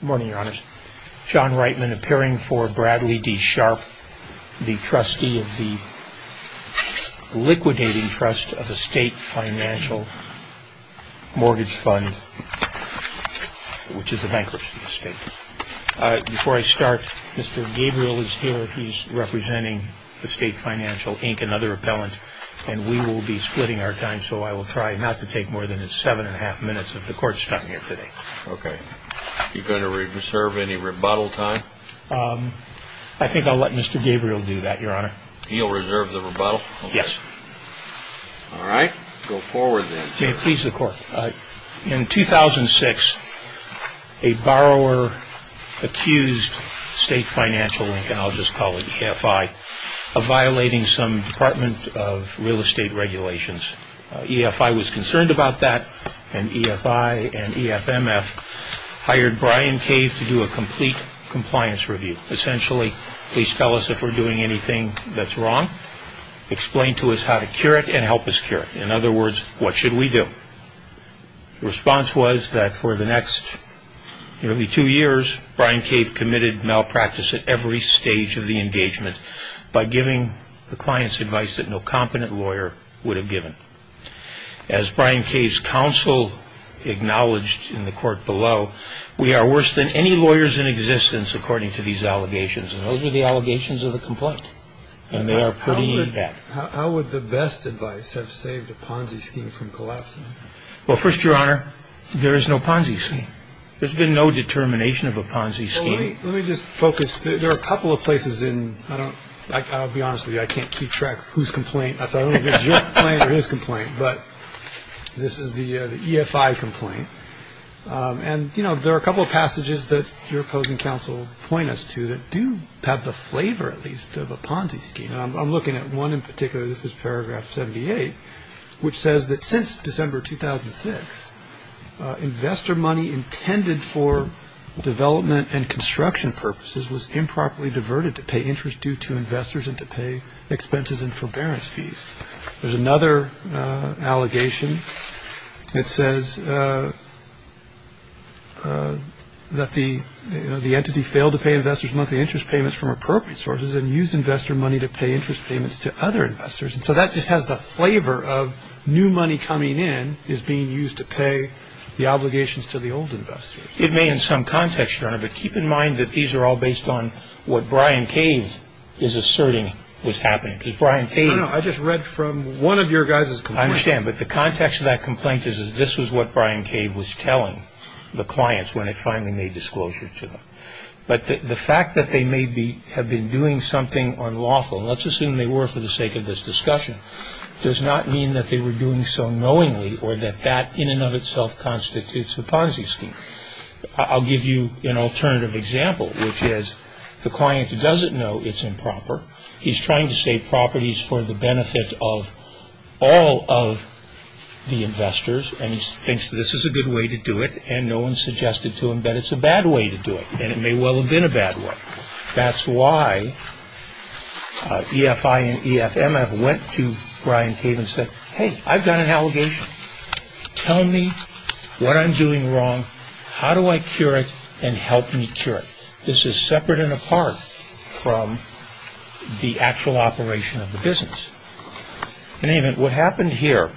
Good morning, your honors. John Reitman appearing for Bradley D. Sharp, the trustee of the Liquidating Trust of the State Financial Mortgage Fund, which is a bankruptcy estate. Before I start, Mr. Gabriel is here. He's representing the State Financial Inc., another appellant, and we will be splitting our time, so I will try not to take more than seven and a half minutes of the court's time here today. Okay. Are you going to reserve any rebuttal time? I think I'll let Mr. Gabriel do that, your honor. He'll reserve the rebuttal? Yes. All right. Go forward, then. May it please the court. In 2006, a borrower accused State Financial, and I'll just call it EFI, of violating some Department of Real Estate regulations. EFI was concerned about that, and EFI and EFMF hired Bryan Cave to do a complete compliance review. Essentially, please tell us if we're doing anything that's wrong. Explain to us how to cure it and help us cure it. In other words, what should we do? The response was that for the next nearly two years, Bryan Cave committed malpractice at every stage of the engagement by giving the client's advice that no competent lawyer would have given. As Bryan Cave's counsel acknowledged in the court below, we are worse than any lawyers in existence, according to these allegations. And those are the allegations of the complaint, and they are putting you in debt. How would the best advice have saved a Ponzi scheme from collapsing? Well, first, your honor, there is no Ponzi scheme. There's been no determination of a Ponzi scheme. Let me just focus. There are a couple of places in – I'll be honest with you, I can't keep track of whose complaint. I don't know if it's your complaint or his complaint, but this is the EFI complaint. And, you know, there are a couple of passages that your opposing counsel point us to that do have the flavor, at least, of a Ponzi scheme. I'm looking at one in particular. This is paragraph 78, which says that since December 2006, investor money intended for development and construction purposes was improperly diverted to pay interest due to investors and to pay expenses and forbearance fees. There's another allegation that says that the entity failed to pay investors' monthly interest payments from appropriate sources and used investor money to pay interest payments to other investors. And so that just has the flavor of new money coming in is being used to pay the obligations to the old investors. It may in some context, your honor, but keep in mind that these are all based on what Brian Cave is asserting was happening. Because Brian Cave – No, no, I just read from one of your guys' complaints. I understand, but the context of that complaint is this was what Brian Cave was telling the clients when it finally made disclosure to them. But the fact that they may have been doing something unlawful, and let's assume they were for the sake of this discussion, does not mean that they were doing so knowingly or that that in and of itself constitutes a Ponzi scheme. I'll give you an alternative example, which is the client doesn't know it's improper. He's trying to save properties for the benefit of all of the investors. And he thinks this is a good way to do it. And no one suggested to him that it's a bad way to do it. And it may well have been a bad way. That's why EFI and EFMF went to Brian Cave and said, hey, I've got an allegation. Tell me what I'm doing wrong. How do I cure it and help me cure it? This is separate and apart from the actual operation of the business. In any event, what happened here,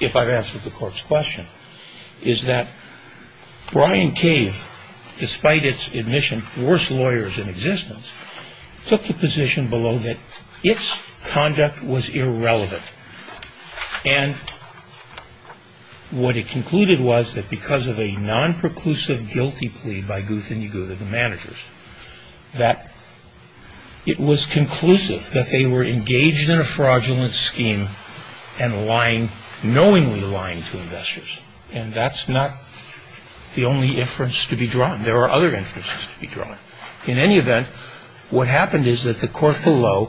if I've answered the court's question, is that Brian Cave, despite its admission, worst lawyers in existence, took the position below that its conduct was irrelevant. And what it concluded was that because of a non-preclusive guilty plea by Guth and Yaguta, the managers, that it was conclusive that they were engaged in a fraudulent scheme and knowingly lying to investors. And that's not the only inference to be drawn. There are other inferences to be drawn. In any event, what happened is that the court below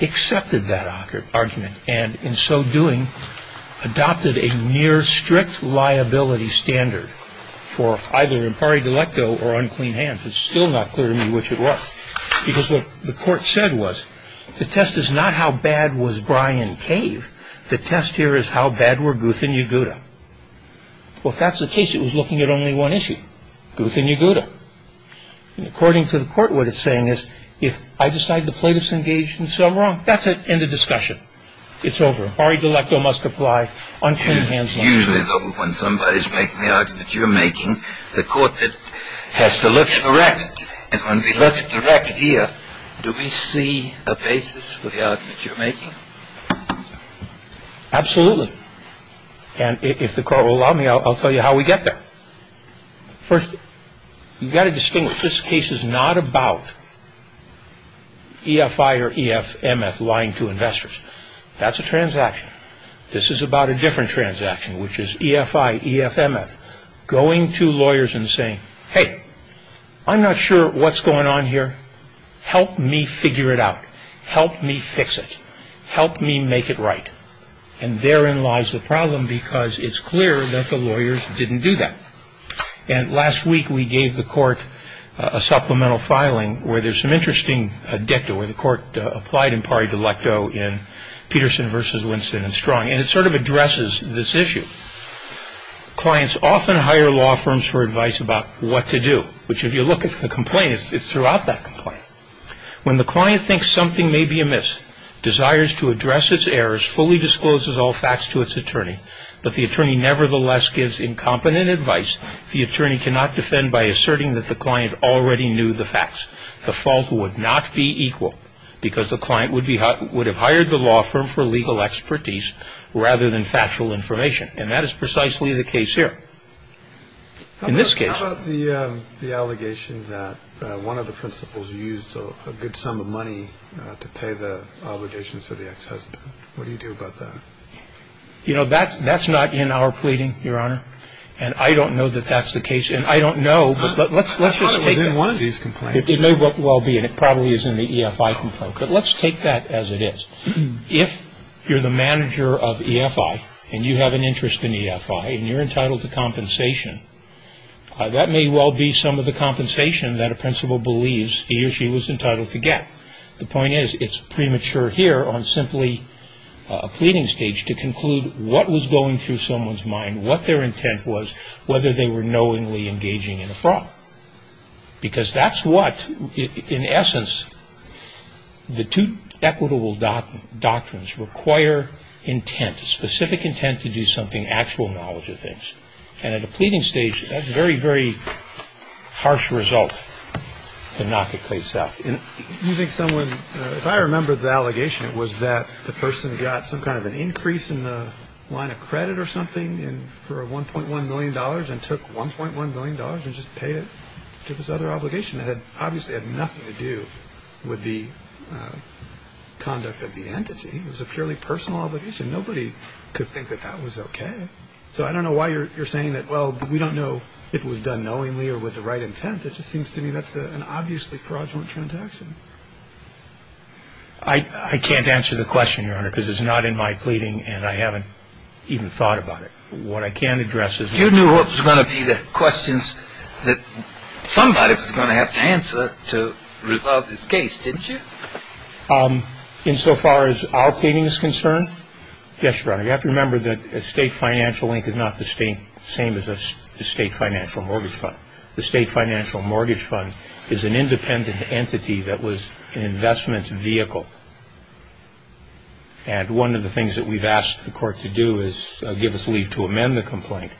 accepted that argument and in so doing adopted a near strict liability standard for either impari delicto or unclean hands. It's still not clear to me which it was. Because what the court said was the test is not how bad was Brian Cave. The test here is how bad were Guth and Yaguta. Well, if that's the case, it was looking at only one issue, Guth and Yaguta. And according to the court, what it's saying is if I decide the plaintiff's engaged in some wrong, that's it, end of discussion. It's over. Impari delicto must apply. Unclean hands must apply. Usually, though, when somebody's making the argument you're making, the court has to look direct. And when we look direct here, do we see a basis for the argument you're making? Absolutely. And if the court will allow me, I'll tell you how we get there. First, you've got to distinguish. This case is not about EFI or EFMF lying to investors. That's a transaction. This is about a different transaction, which is EFI, EFMF, going to lawyers and saying, hey, I'm not sure what's going on here. Help me figure it out. Help me fix it. Help me make it right. And therein lies the problem because it's clear that the lawyers didn't do that. And last week we gave the court a supplemental filing where there's some interesting dicta, where the court applied impari delicto in Peterson v. Winston and Strong, and it sort of addresses this issue. Clients often hire law firms for advice about what to do, which, if you look at the complaint, it's throughout that complaint. When the client thinks something may be amiss, desires to address its errors, fully discloses all facts to its attorney, but the attorney nevertheless gives incompetent advice, the attorney cannot defend by asserting that the client already knew the facts. The fault would not be equal because the client would have hired the law firm for legal expertise rather than factual information. And that is precisely the case here. In this case. How about the allegation that one of the principals used a good sum of money to pay the obligations to the ex-husband? What do you do about that? You know, that's not in our pleading, Your Honor, and I don't know that that's the case, and I don't know, but let's just take it. I thought it was in one of these complaints. It may well be, and it probably is in the EFI complaint, but let's take that as it is. If you're the manager of EFI and you have an interest in EFI and you're entitled to compensation, that may well be some of the compensation that a principal believes he or she was entitled to get. The point is it's premature here on simply a pleading stage to conclude what was going through someone's mind, what their intent was, whether they were knowingly engaging in a fraud. Because that's what, in essence, the two equitable doctrines require intent, specific intent to do something, actual knowledge of things. And at a pleading stage, that's a very, very harsh result to knock a case out. You think someone, if I remember the allegation, it was that the person got some kind of an increase in the line of credit or something for $1.1 million and took $1.1 million and just paid it to this other obligation. It obviously had nothing to do with the conduct of the entity. It was a purely personal obligation. Nobody could think that that was okay. So I don't know why you're saying that, well, we don't know if it was done knowingly or with the right intent. It just seems to me that's an obviously fraudulent transaction. I can't answer the question, Your Honor, because it's not in my pleading and I haven't even thought about it. What I can address is- You knew what was going to be the questions that somebody was going to have to answer to resolve this case, didn't you? Insofar as our pleading is concerned, yes, Your Honor. You have to remember that the State Financial Inc. is not the same as the State Financial Mortgage Fund. The State Financial Mortgage Fund is an independent entity that was an investment vehicle. And one of the things that we've asked the court to do is give us leave to amend the complaint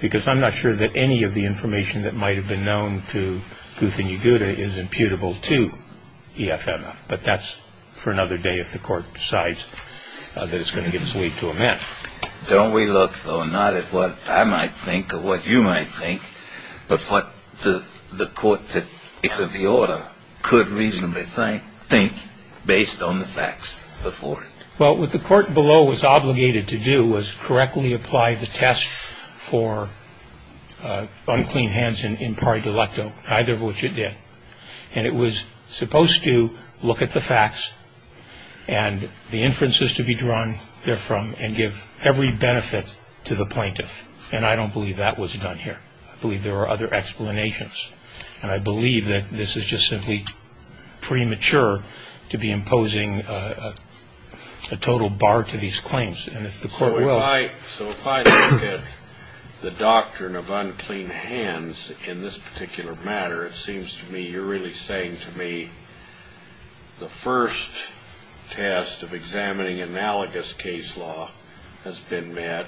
because I'm not sure that any of the information that might have been known to Guth and Yeguda is imputable to EFMF. But that's for another day if the court decides that it's going to give us leave to amend. Don't we look, though, not at what I might think or what you might think, but what the court that issued the order could reasonably think based on the facts before it? Well, what the court below was obligated to do was correctly apply the test for unclean hands in par delicto, either of which it did. And it was supposed to look at the facts and the inferences to be drawn therefrom and give every benefit to the plaintiff. And I don't believe that was done here. I believe there are other explanations. And I believe that this is just simply premature to be imposing a total bar to these claims. And if the court will. So if I look at the doctrine of unclean hands in this particular matter, it seems to me you're really saying to me the first test of examining analogous case law has been met.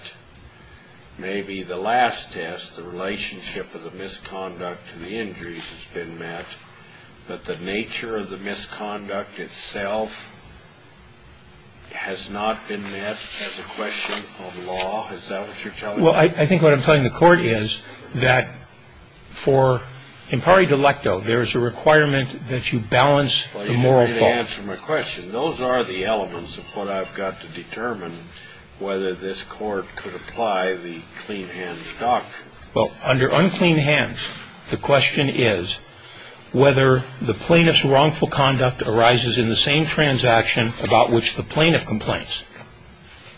Maybe the last test, the relationship of the misconduct to the injuries has been met, but the nature of the misconduct itself has not been met as a question of law. Is that what you're telling me? Well, I think what I'm telling the court is that for in par delicto, there is a requirement that you balance the moral fault. Well, you didn't answer my question. Those are the elements of what I've got to determine whether this court could apply the clean hand doctrine. Well, under unclean hands, the question is whether the plaintiff's wrongful conduct arises in the same transaction about which the plaintiff complains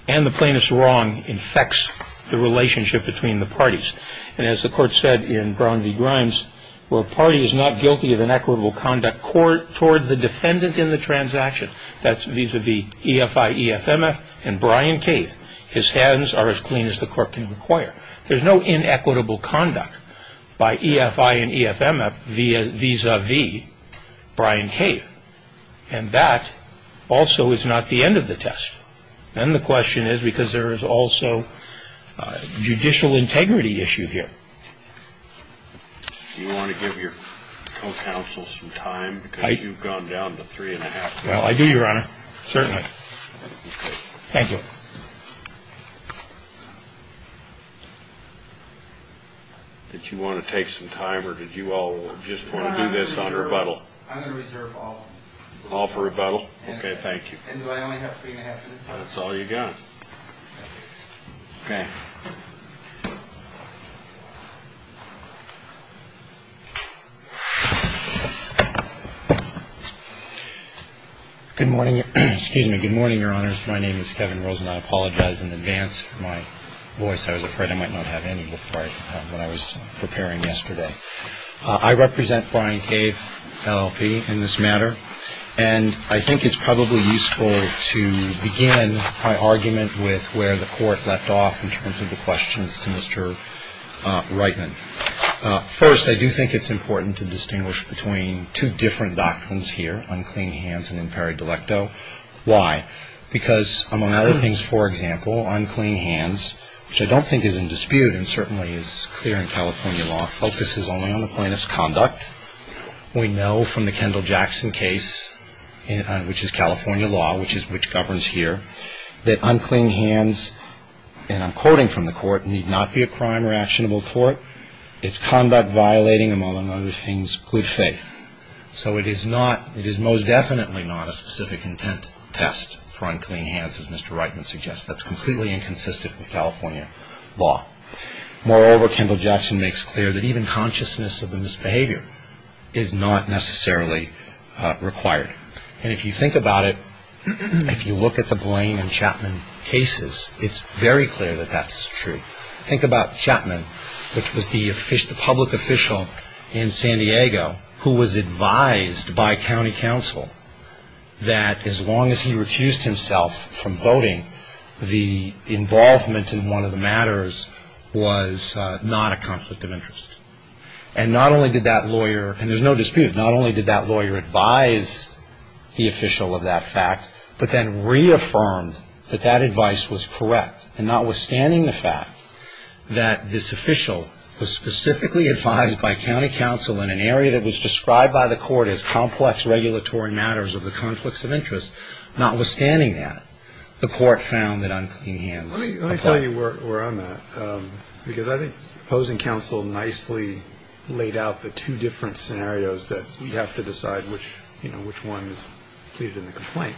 and the plaintiff's wrong infects the relationship between the parties. And as the court said in Brown v. Grimes, where a party is not guilty of inequitable conduct toward the defendant in the transaction, that's vis-a-vis EFI, EFMF, and Brian Cave, his hands are as clean as the court can require. There's no inequitable conduct by EFI and EFMF vis-a-vis Brian Cave. And that also is not the end of the test. And the question is because there is also a judicial integrity issue here. Do you want to give your co-counsel some time? Because you've gone down to three and a half minutes. Well, I do, Your Honor, certainly. Thank you. Did you want to take some time or did you all just want to do this on rebuttal? I'm going to reserve all. All for rebuttal? Okay, thank you. And do I only have three and a half minutes left? That's all you've got. Okay. Good morning. Excuse me. Good morning, Your Honors. My name is Kevin Rosen. I apologize in advance for my voice. I was afraid I might not have any before I was preparing yesterday. I represent Brian Cave, LLP, in this matter. And I think it's probably useful to begin my argument with where the court left off in terms of the questions to Mr. Reitman. First, I do think it's important to distinguish between two different doctrines here, unclean hands and imperi delecto. Why? Because among other things, for example, unclean hands, which I don't think is in dispute and certainly is clear in California law, focuses only on the plaintiff's conduct. We know from the Kendall-Jackson case, which is California law, which governs here, that unclean hands, and I'm quoting from the court, need not be a crime or actionable tort. It's conduct violating, among other things, good faith. So it is most definitely not a specific intent test for unclean hands, as Mr. Reitman suggests. That's completely inconsistent with California law. Moreover, Kendall-Jackson makes clear that even consciousness of the misbehavior is not necessarily required. And if you think about it, if you look at the Blaine and Chapman cases, it's very clear that that's true. Think about Chapman, which was the public official in San Diego, who was advised by county council that as long as he refused himself from voting, the involvement in one of the matters was not a conflict of interest. And not only did that lawyer, and there's no dispute, not only did that lawyer advise the official of that fact, but then reaffirmed that that advice was correct. And notwithstanding the fact that this official was specifically advised by county council in an area that was described by the court as complex regulatory matters of the conflicts of interest, notwithstanding that, the court found that unclean hands applied. Let me tell you where I'm at, because I think opposing counsel nicely laid out the two different scenarios that you have to decide which one is pleaded in the complaint.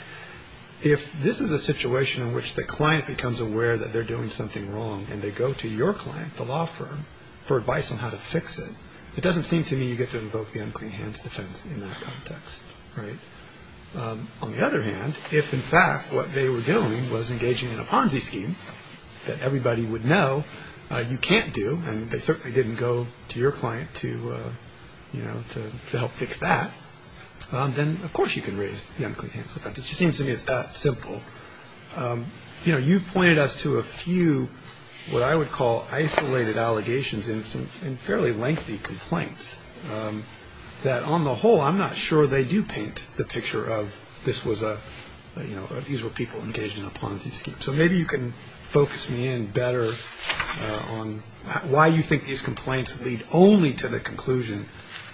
If this is a situation in which the client becomes aware that they're doing something wrong and they go to your client, the law firm, for advice on how to fix it, it doesn't seem to me you get to invoke the unclean hands defense in that context. On the other hand, if in fact what they were doing was engaging in a Ponzi scheme that everybody would know you can't do, and they certainly didn't go to your client to help fix that, then of course you can raise the unclean hands defense. It just seems to me it's that simple. You've pointed us to a few what I would call isolated allegations and some fairly lengthy complaints that, on the whole, I'm not sure they do paint the picture of these were people engaged in a Ponzi scheme. So maybe you can focus me in better on why you think these complaints lead only to the conclusion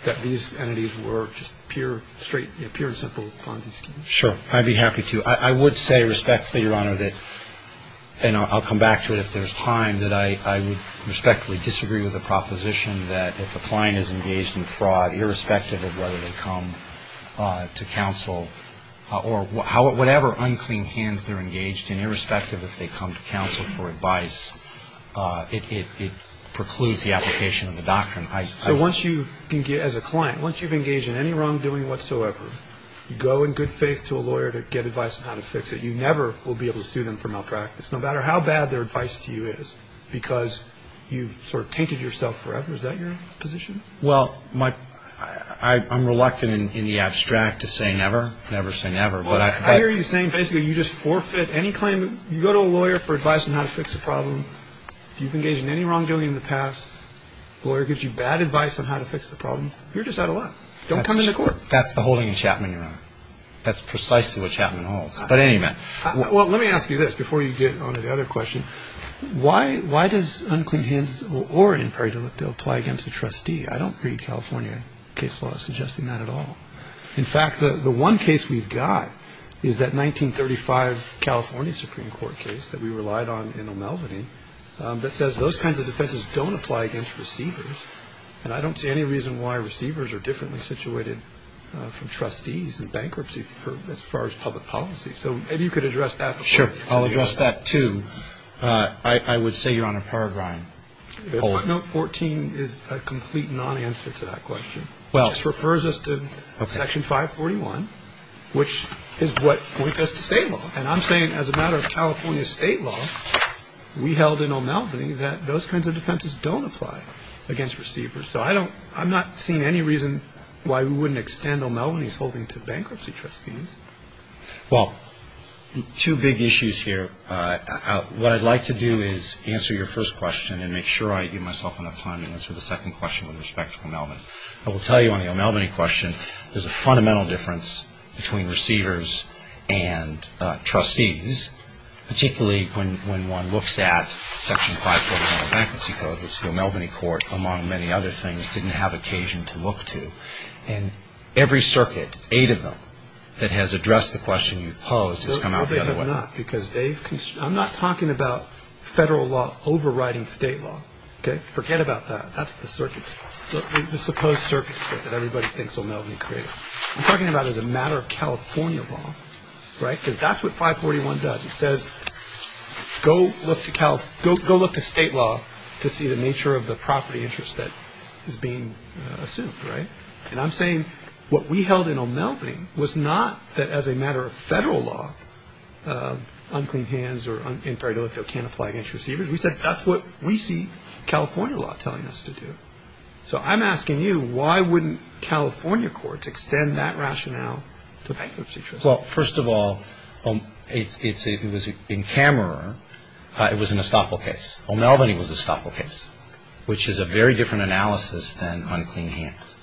that these entities were just pure and simple Ponzi schemes. Sure. I'd be happy to. I would say respectfully, Your Honor, and I'll come back to it if there's time, that I would respectfully disagree with the proposition that if a client is engaged in fraud, irrespective of whether they come to counsel or whatever unclean hands they're engaged in, irrespective if they come to counsel for advice, it precludes the application of the doctrine. So once you, as a client, once you've engaged in any wrongdoing whatsoever, you go in good faith to a lawyer to get advice on how to fix it, you never will be able to sue them for malpractice, no matter how bad their advice to you is because you've sort of tainted yourself forever. Is that your position? Well, I'm reluctant in the abstract to say never, never say never. Well, I hear you saying basically you just forfeit any claim. You go to a lawyer for advice on how to fix a problem. If you've engaged in any wrongdoing in the past, the lawyer gives you bad advice on how to fix the problem, you're just out of luck. Don't come into court. That's the holding of Chapman, Your Honor. That's precisely what Chapman holds. But anyway. Well, let me ask you this before you get on to the other question. Why does Unclean Hands or In Perry Dill apply against a trustee? I don't read California case law suggesting that at all. In fact, the one case we've got is that 1935 California Supreme Court case that we relied on in O'Melveny that says those kinds of defenses don't apply against receivers, and I don't see any reason why receivers are differently situated from trustees in bankruptcy as far as public policy. So maybe you could address that before. Sure. I'll address that, too. I would say, Your Honor, Peregrine holds. Footnote 14 is a complete nonanswer to that question. Well. It just refers us to Section 541, which is what points us to state law. And I'm saying as a matter of California state law, we held in O'Melveny that those kinds of defenses don't apply against receivers. So I'm not seeing any reason why we wouldn't extend O'Melveny's holding to bankruptcy trustees. Well, two big issues here. What I'd like to do is answer your first question and make sure I give myself enough time to answer the second question with respect to O'Melveny. I will tell you on the O'Melveny question, there's a fundamental difference between receivers and trustees, particularly when one looks at Section 541 of the Bankruptcy Code, which the O'Melveny Court, among many other things, didn't have occasion to look to. And every circuit, eight of them, that has addressed the question you've posed has come out the other way. No, they have not. I'm not talking about federal law overriding state law. Okay? Forget about that. That's the supposed circuit that everybody thinks O'Melveny created. I'm talking about as a matter of California law, right? Because that's what 541 does. It says go look to state law to see the nature of the property interest that is being assumed, right? And I'm saying what we held in O'Melveny was not that as a matter of federal law, unclean hands or inferior delicto can't apply against receivers. We said that's what we see California law telling us to do. So I'm asking you, why wouldn't California courts extend that rationale to bankruptcy trustees? Well, first of all, it was in camera. It was an estoppel case. O'Melveny was an estoppel case, which is a very different analysis than unclean hands.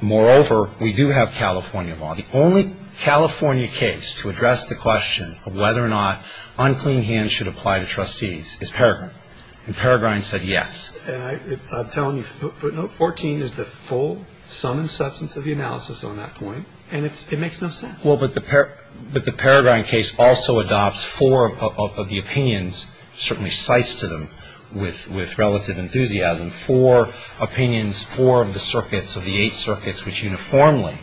Moreover, we do have California law. The only California case to address the question of whether or not unclean hands should apply to trustees is Paragrine. And Paragrine said yes. I'm telling you, footnote 14 is the full sum and substance of the analysis on that point, and it makes no sense. Well, but the Paragrine case also adopts four of the opinions, certainly cites to them with relative enthusiasm, four opinions, four of the circuits, of the eight circuits, which uniformly,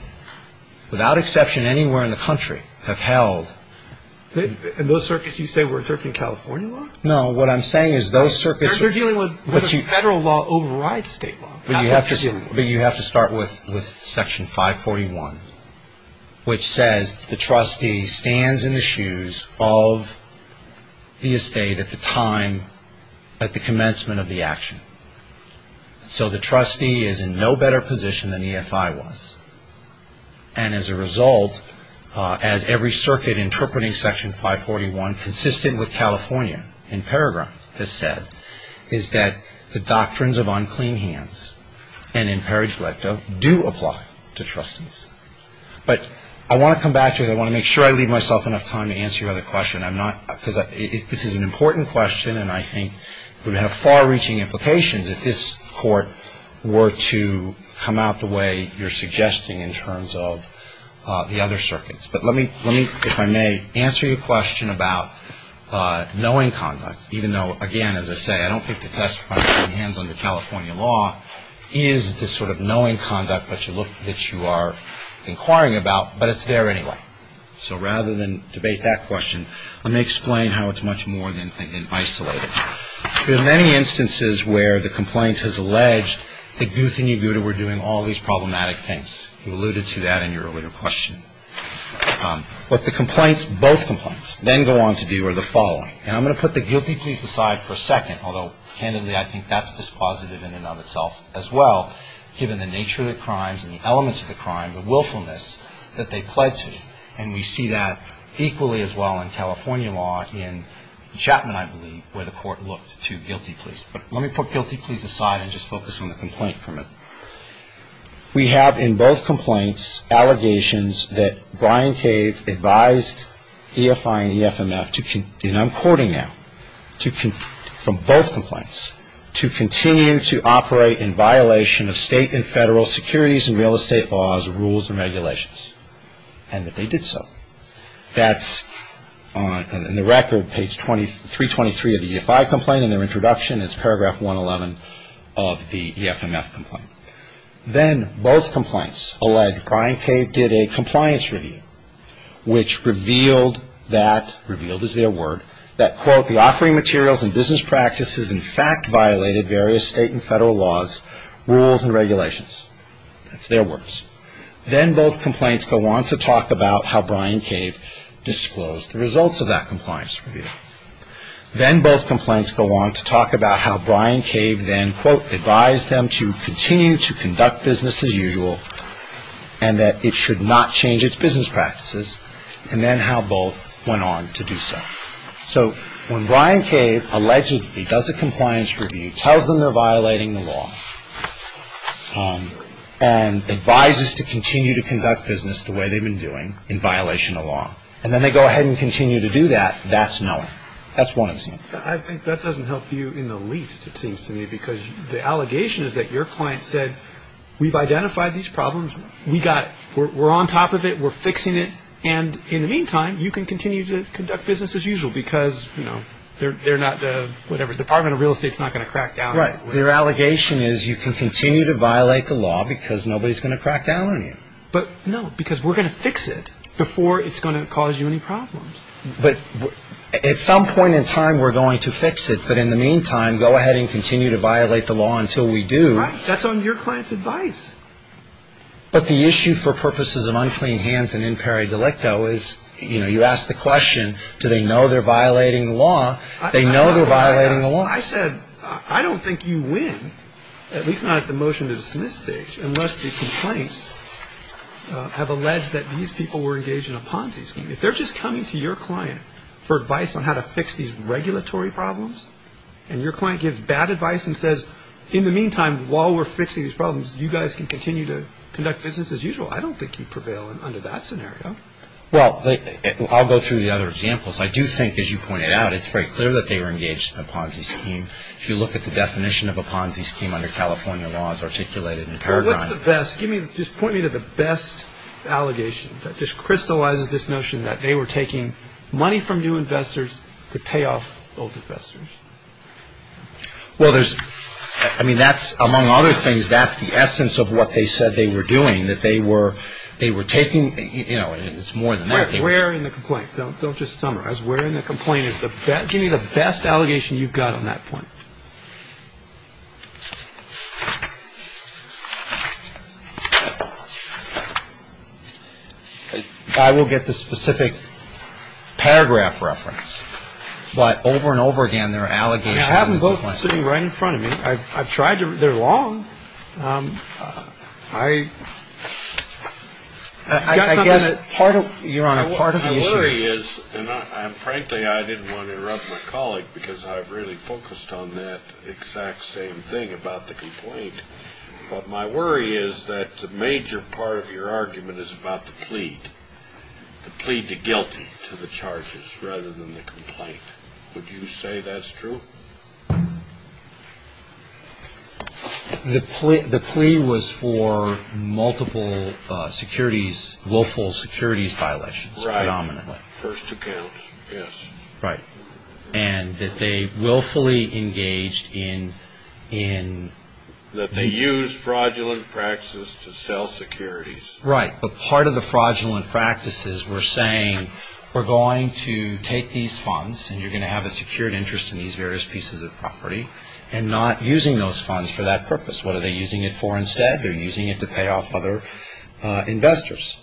without exception anywhere in the country, have held. And those circuits you say were interpreting California law? No, what I'm saying is those circuits. They're dealing with federal law overrides state law. But you have to start with Section 541, which says the trustee stands in the shoes of the estate at the time, at the commencement of the action. So the trustee is in no better position than EFI was. And as a result, as every circuit interpreting Section 541, consistent with California, and Paragrine has said, is that the doctrines of unclean hands, and in Paraglito, do apply to trustees. But I want to come back to it. I want to make sure I leave myself enough time to answer your other question. I'm not, because this is an important question, and I think it would have far-reaching implications if this Court were to come out the way you're suggesting in terms of the other circuits. But let me, if I may, answer your question about knowing conduct, even though, again, as I say, I don't think the testifying of clean hands under California law is this sort of knowing conduct that you are inquiring about, but it's there anyway. So rather than debate that question, let me explain how it's much more than isolated. There are many instances where the complaint has alleged that Guth and Yaguta were doing all these problematic things. You alluded to that in your earlier question. But the complaints, both complaints, then go on to do are the following. And I'm going to put the guilty pleas aside for a second, although, candidly, I think that's dispositive in and of itself as well, given the nature of the crimes and the elements of the crime, the willfulness that they pled to. And we see that equally as well in California law in Chapman, I believe, where the Court looked to guilty pleas. But let me put guilty pleas aside and just focus on the complaint for a minute. We have in both complaints allegations that Brian Cave advised EFI and EFMF, and I'm quoting now, from both complaints, to continue to operate in violation of state and federal securities and real estate laws, rules, and regulations, and that they did so. That's in the record, page 323 of the EFI complaint, and their introduction is paragraph 111 of the EFMF complaint. Then both complaints allege Brian Cave did a compliance review, which revealed that, revealed is their word, that, quote, the offering materials and business practices, in fact, violated various state and federal laws, rules, and regulations. That's their words. Then both complaints go on to talk about how Brian Cave disclosed the results of that compliance review. Then both complaints go on to talk about how Brian Cave then, quote, advised them to continue to conduct business as usual and that it should not change its business practices, and then how both went on to do so. So when Brian Cave allegedly does a compliance review, tells them they're violating the law, and advises to continue to conduct business the way they've been doing in violation of law, and then they go ahead and continue to do that, that's knowing. That's one example. I think that doesn't help you in the least, it seems to me, because the allegation is that your client said, we've identified these problems. We got it. We're on top of it. We're fixing it. And in the meantime, you can continue to conduct business as usual because, you know, they're not the, whatever, Department of Real Estate's not going to crack down on you. Right. Their allegation is you can continue to violate the law because nobody's going to crack down on you. But, no, because we're going to fix it before it's going to cause you any problems. But at some point in time, we're going to fix it. But in the meantime, go ahead and continue to violate the law until we do. Right. That's on your client's advice. But the issue for purposes of unclean hands and in pari delicto is, you know, you ask the question, do they know they're violating the law? They know they're violating the law. I said, I don't think you win, at least not at the motion to dismiss stage, unless the complaints have alleged that these people were engaged in a Ponzi scheme. If they're just coming to your client for advice on how to fix these regulatory problems and your client gives bad advice and says, in the meantime, while we're fixing these problems, you guys can continue to conduct business as usual, I don't think you prevail under that scenario. Well, I'll go through the other examples. I do think, as you pointed out, it's very clear that they were engaged in a Ponzi scheme. If you look at the definition of a Ponzi scheme under California law, it's articulated in paragraph. What's the best? Just point me to the best allegation that just crystallizes this notion that they were taking money from new investors to pay off old investors. Well, there's – I mean, that's – among other things, that's the essence of what they said they were doing, that they were taking – you know, it's more than that. Where in the complaint? Don't just summarize. Where in the complaint is the best – give me the best allegation you've got on that point. I will get the specific paragraph reference. But over and over again, there are allegations. I have them both sitting right in front of me. I've tried to – they're long. I – I guess part of – Your Honor, part of the issue – And frankly, I didn't want to interrupt my colleague because I've really focused on that exact same thing about the complaint. But my worry is that the major part of your argument is about the plea, the plea to guilty to the charges rather than the complaint. Would you say that's true? The plea was for multiple securities, willful securities violations predominantly. First accounts, yes. Right. And that they willfully engaged in – That they used fraudulent practices to sell securities. Right. But part of the fraudulent practices were saying we're going to take these funds and you're going to have a secured interest in these various pieces of property and not using those funds for that purpose. What are they using it for instead? They're using it to pay off other investors.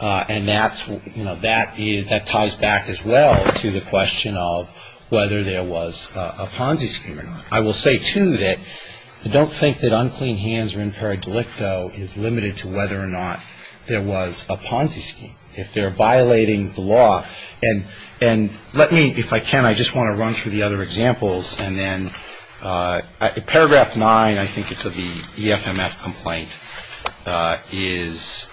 And that's – you know, that ties back as well to the question of whether there was a Ponzi scheme or not. I will say, too, that I don't think that unclean hands or imperial delicto is limited to whether or not there was a Ponzi scheme. If they're violating the law – and let me – if I can, I just want to run through the other examples. And then paragraph 9, I think it's of the EFMF complaint, is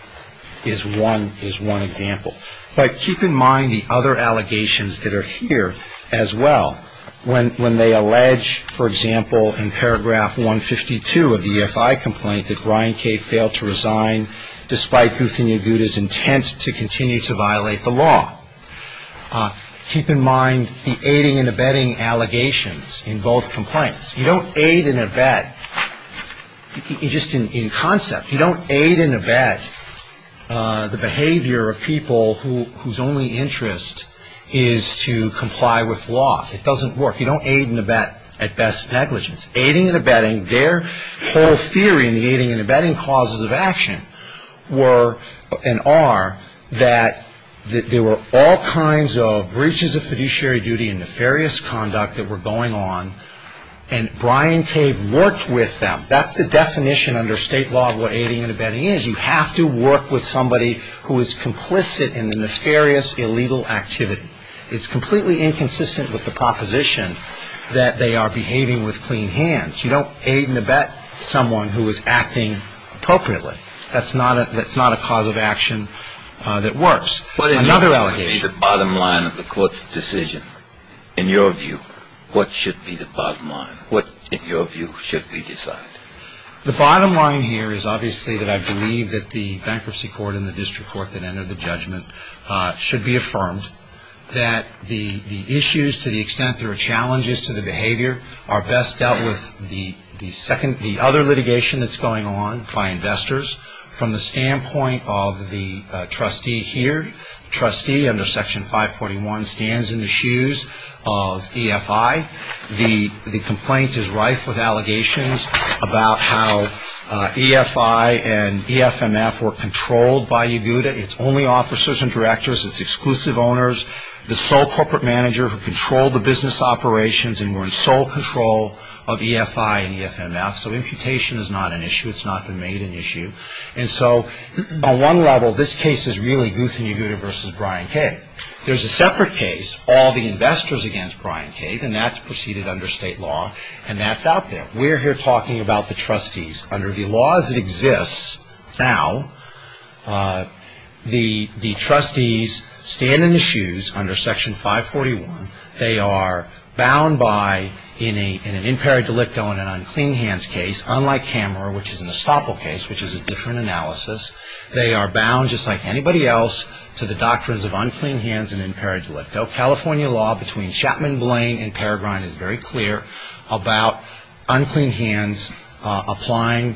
one example. But keep in mind the other allegations that are here as well. When they allege, for example, in paragraph 152 of the EFI complaint, that Brian K. failed to resign despite Guthin and Gutta's intent to continue to violate the law. Keep in mind the aiding and abetting allegations in both complaints. You don't aid and abet – just in concept, you don't aid and abet the behavior of people whose only interest is to comply with law. It doesn't work. You don't aid and abet at best negligence. Their whole theory in the aiding and abetting causes of action were and are that there were all kinds of breaches of fiduciary duty and nefarious conduct that were going on, and Brian K. worked with them. That's the definition under state law of what aiding and abetting is. You have to work with somebody who is complicit in the nefarious, illegal activity. It's completely inconsistent with the proposition that they are behaving with clean hands. You don't aid and abet someone who is acting appropriately. That's not a cause of action that works. Another allegation – What is the bottom line of the court's decision? In your view, what should be the bottom line? What, in your view, should be decided? The bottom line here is obviously that I believe that the bankruptcy court and the district court that entered the judgment should be affirmed. That the issues to the extent there are challenges to the behavior are best dealt with the other litigation that's going on by investors. From the standpoint of the trustee here, the trustee under Section 541 stands in the shoes of EFI. The complaint is rife with allegations about how EFI and EFMF were controlled by Yeguda. It's only officers and directors. It's exclusive owners. The sole corporate manager who controlled the business operations and were in sole control of EFI and EFMF. So imputation is not an issue. It's not been made an issue. And so, on one level, this case is really Guth and Yeguda versus Brian Cave. There's a separate case, all the investors against Brian Cave, and that's proceeded under state law. And that's out there. We're here talking about the trustees. Under the laws that exist now, the trustees stand in the shoes under Section 541. They are bound by, in an imperi delicto and an unclean hands case, unlike Kammerer, which is an estoppel case, which is a different analysis. They are bound, just like anybody else, to the doctrines of unclean hands and imperi delicto. California law between Chapman Blaine and Peregrine is very clear about unclean hands applying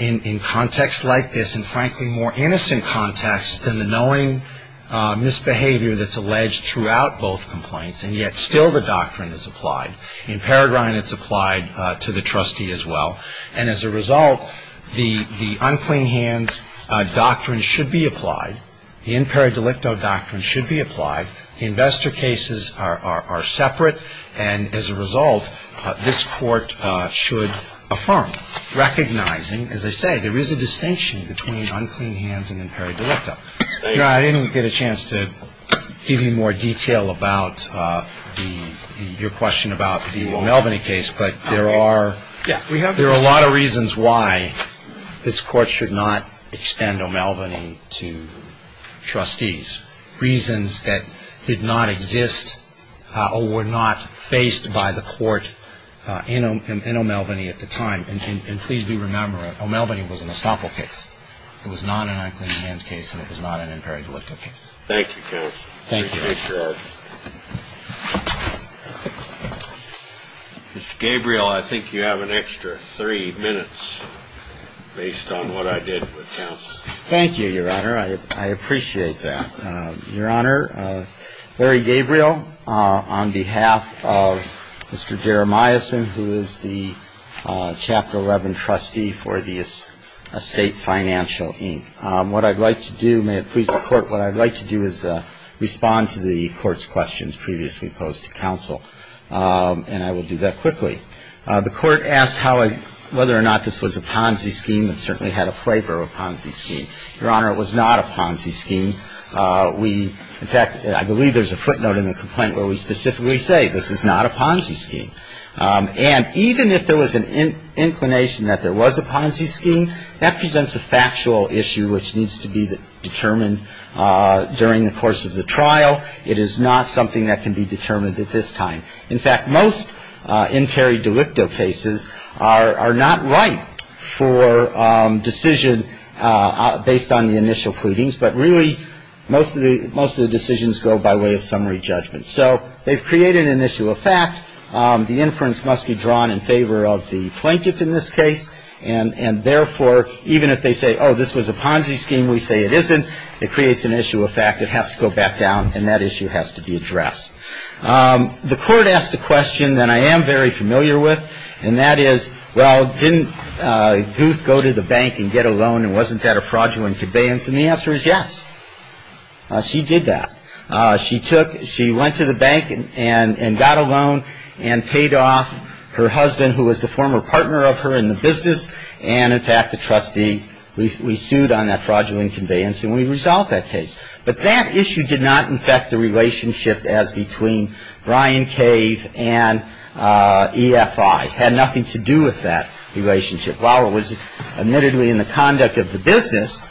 in context like this, and frankly more innocent context than the knowing misbehavior that's alleged throughout both complaints, and yet still the doctrine is applied. In Peregrine, it's applied to the trustee as well. And as a result, the unclean hands doctrine should be applied. The imperi delicto doctrine should be applied. The investor cases are separate. And as a result, this court should affirm, recognizing, as I say, there is a distinction between unclean hands and imperi delicto. I didn't get a chance to give you more detail about your question about the O'Melveny case, but there are a lot of reasons why this court should not extend O'Melveny to trustees, reasons that did not exist or were not faced by the court in O'Melveny at the time. And please do remember, O'Melveny was an estoppel case. It was not an unclean hands case, and it was not an imperi delicto case. Thank you, counsel. Thank you. Mr. Gabriel, I think you have an extra three minutes based on what I did with counsel. Thank you, Your Honor. I appreciate that. Your Honor, Larry Gabriel, on behalf of Mr. Jeremiahson, who is the Chapter 11 trustee for the Estate Financial, Inc. What I'd like to do, may it please the Court, what I'd like to do is respond to the Court's questions previously posed to counsel, and I will do that quickly. The Court asked whether or not this was a Ponzi scheme. It certainly had a flavor of a Ponzi scheme. Your Honor, it was not a Ponzi scheme. We, in fact, I believe there's a footnote in the complaint where we specifically say this is not a Ponzi scheme. And even if there was an inclination that there was a Ponzi scheme, that presents a factual issue which needs to be determined during the course of the trial. It is not something that can be determined at this time. In fact, most in-carry delicto cases are not right for decision based on the initial pleadings, but really most of the decisions go by way of summary judgment. So they've created an issue of fact. The inference must be drawn in favor of the plaintiff in this case. And therefore, even if they say, oh, this was a Ponzi scheme, we say it isn't, it creates an issue of fact. It has to go back down, and that issue has to be addressed. The court asked a question that I am very familiar with, and that is, well, didn't Gouth go to the bank and get a loan, and wasn't that a fraudulent conveyance? And the answer is yes. She did that. She went to the bank and got a loan and paid off her husband, who was a former partner of her in the business. And, in fact, the trustee, we sued on that fraudulent conveyance, and we resolved that case. But that issue did not infect the relationship as between Brian Cave and EFI. It had nothing to do with that relationship. While it was admittedly in the conduct of the business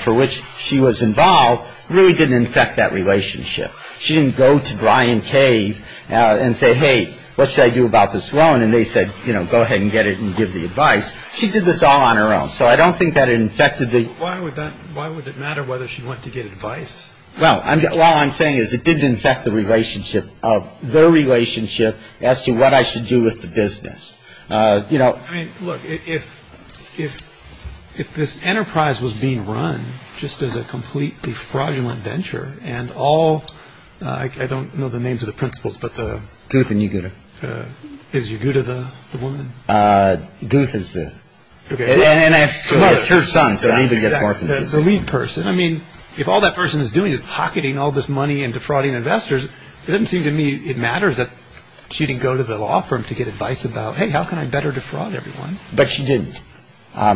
for which she was involved, it really didn't infect that relationship. She didn't go to Brian Cave and say, hey, what should I do about this loan? And they said, you know, go ahead and get it and give the advice. She did this all on her own. So I don't think that it infected the – Why would that – why would it matter whether she went to get advice? Well, all I'm saying is it didn't infect the relationship – their relationship as to what I should do with the business. You know – I mean, look, if – if this enterprise was being run just as a completely fraudulent venture, and all – I don't know the names of the principals, but the – Guth and Yaguta. Is Yaguta the woman? Guth is the – And I – Well, it's her son, so anybody gets more confusing. The lead person. I mean, if all that person is doing is pocketing all this money and defrauding investors, it doesn't seem to me it matters that she didn't go to the law firm to get advice about, hey, how can I better defraud everyone? But she didn't.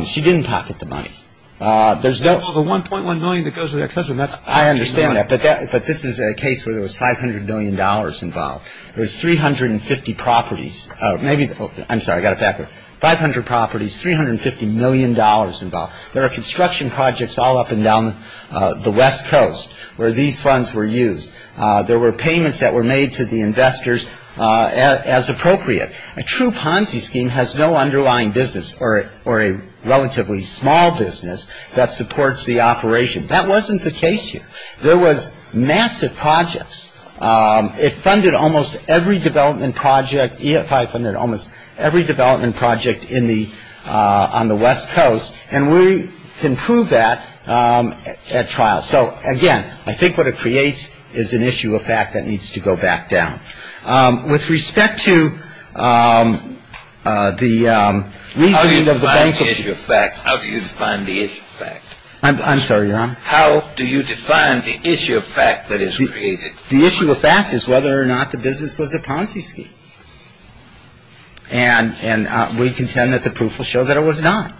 She didn't pocket the money. There's no – Well, the $1.1 million that goes to the accessory, that's – I understand that. But that – but this is a case where there was $500 million involved. There was 350 properties. Maybe – I'm sorry, I got it backwards. 500 properties, $350 million involved. There are construction projects all up and down the West Coast where these funds were used. There were payments that were made to the investors as appropriate. A true Ponzi scheme has no underlying business or a relatively small business that supports the operation. That wasn't the case here. There was massive projects. It funded almost every development project – EFI funded almost every development project in the – on the West Coast. And we can prove that at trial. So, again, I think what it creates is an issue of fact that needs to go back down. With respect to the reasoning of the – How do you define the issue of fact? How do you define the issue of fact? I'm sorry, Your Honor? How do you define the issue of fact that is created? The issue of fact is whether or not the business was a Ponzi scheme. And we contend that the proof will show that it was not.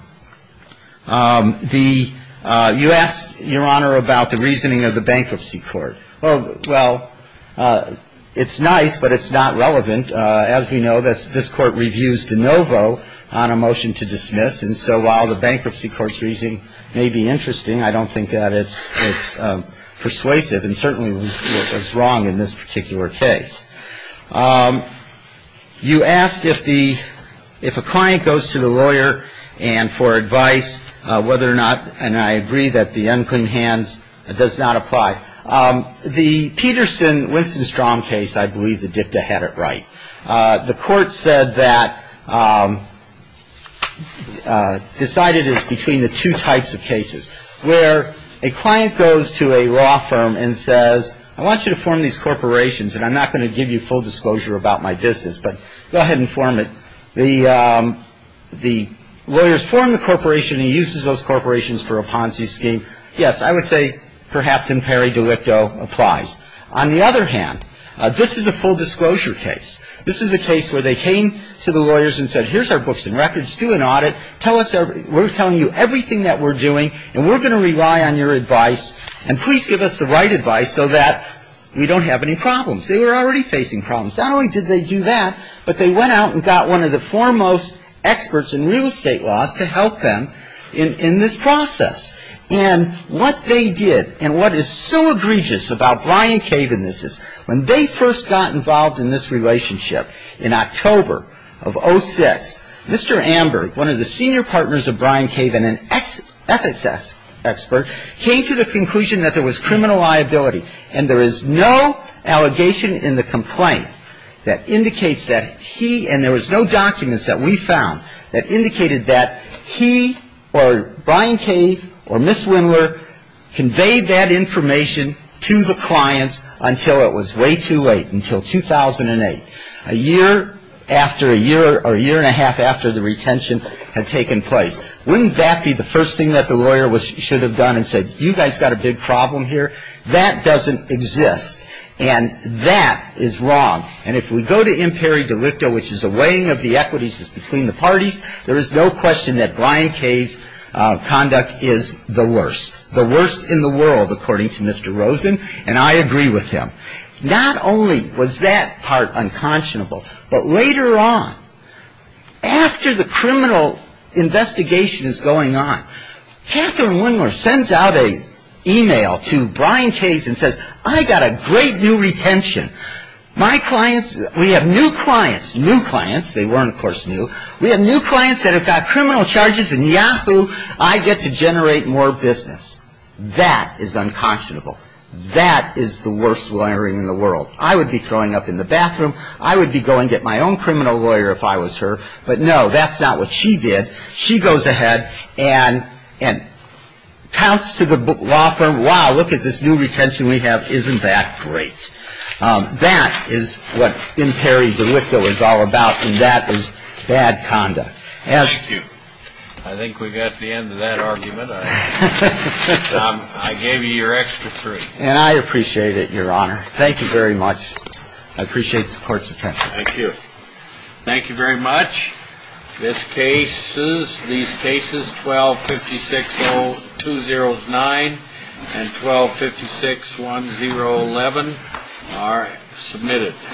The – you asked, Your Honor, about the reasoning of the Bankruptcy Court. Well, it's nice, but it's not relevant. As we know, this Court reviews de novo on a motion to dismiss. And so while the Bankruptcy Court's reasoning may be interesting, I don't think that it's persuasive. And certainly was wrong in this particular case. You asked if the – if a client goes to the lawyer and for advice, whether or not – and I agree that the unclean hands does not apply. The Peterson-Winston-Strong case, I believe the dicta had it right. The Court said that – decided it's between the two types of cases, where a client goes to a law firm and says, I want you to form these corporations and I'm not going to give you full disclosure about my business, but go ahead and form it. The lawyers form the corporation. He uses those corporations for a Ponzi scheme. Yes, I would say perhaps imperi delicto applies. On the other hand, this is a full disclosure case. This is a case where they came to the lawyers and said, here's our books and records. Do an audit. Tell us – we're telling you everything that we're doing and we're going to rely on your advice. And please give us the right advice so that we don't have any problems. They were already facing problems. Not only did they do that, but they went out and got one of the foremost experts in real estate laws to help them in this process. And what they did, and what is so egregious about Brian Cave in this is, when they first got involved in this relationship in October of 06, Mr. Amber, one of the senior partners of Brian Cave and an ethics expert, came to the conclusion that there was criminal liability. And there is no allegation in the complaint that indicates that he – and there was no documents that we found that indicated that he or Brian Cave or Ms. Windler conveyed that information to the clients until it was way too late, until 2008. A year after a year – or a year and a half after the retention had taken place. Wouldn't that be the first thing that the lawyer should have done and said, you guys got a big problem here? That doesn't exist. And that is wrong. And if we go to imperi delicto, which is a weighing of the equities between the parties, there is no question that Brian Cave's conduct is the worst. The worst in the world, according to Mr. Rosen. And I agree with him. Not only was that part unconscionable, but later on, after the criminal investigation is going on, Catherine Windler sends out an email to Brian Cave and says, I got a great new retention. My clients – we have new clients. New clients. They weren't, of course, new. We have new clients that have got criminal charges in Yahoo. I get to generate more business. That is unconscionable. That is the worst lawyering in the world. I would be throwing up in the bathroom. I would be going to get my own criminal lawyer if I was her. But no, that's not what she did. She goes ahead and counts to the law firm, wow, look at this new retention we have. Isn't that great? That is what imperi delicto is all about, and that is bad conduct. Thank you. I think we've got the end of that argument. I gave you your extra three. And I appreciate it, Your Honor. Thank you very much. I appreciate the court's attention. Thank you. Thank you very much. These cases, 12-560-209 and 12-561-011 are submitted.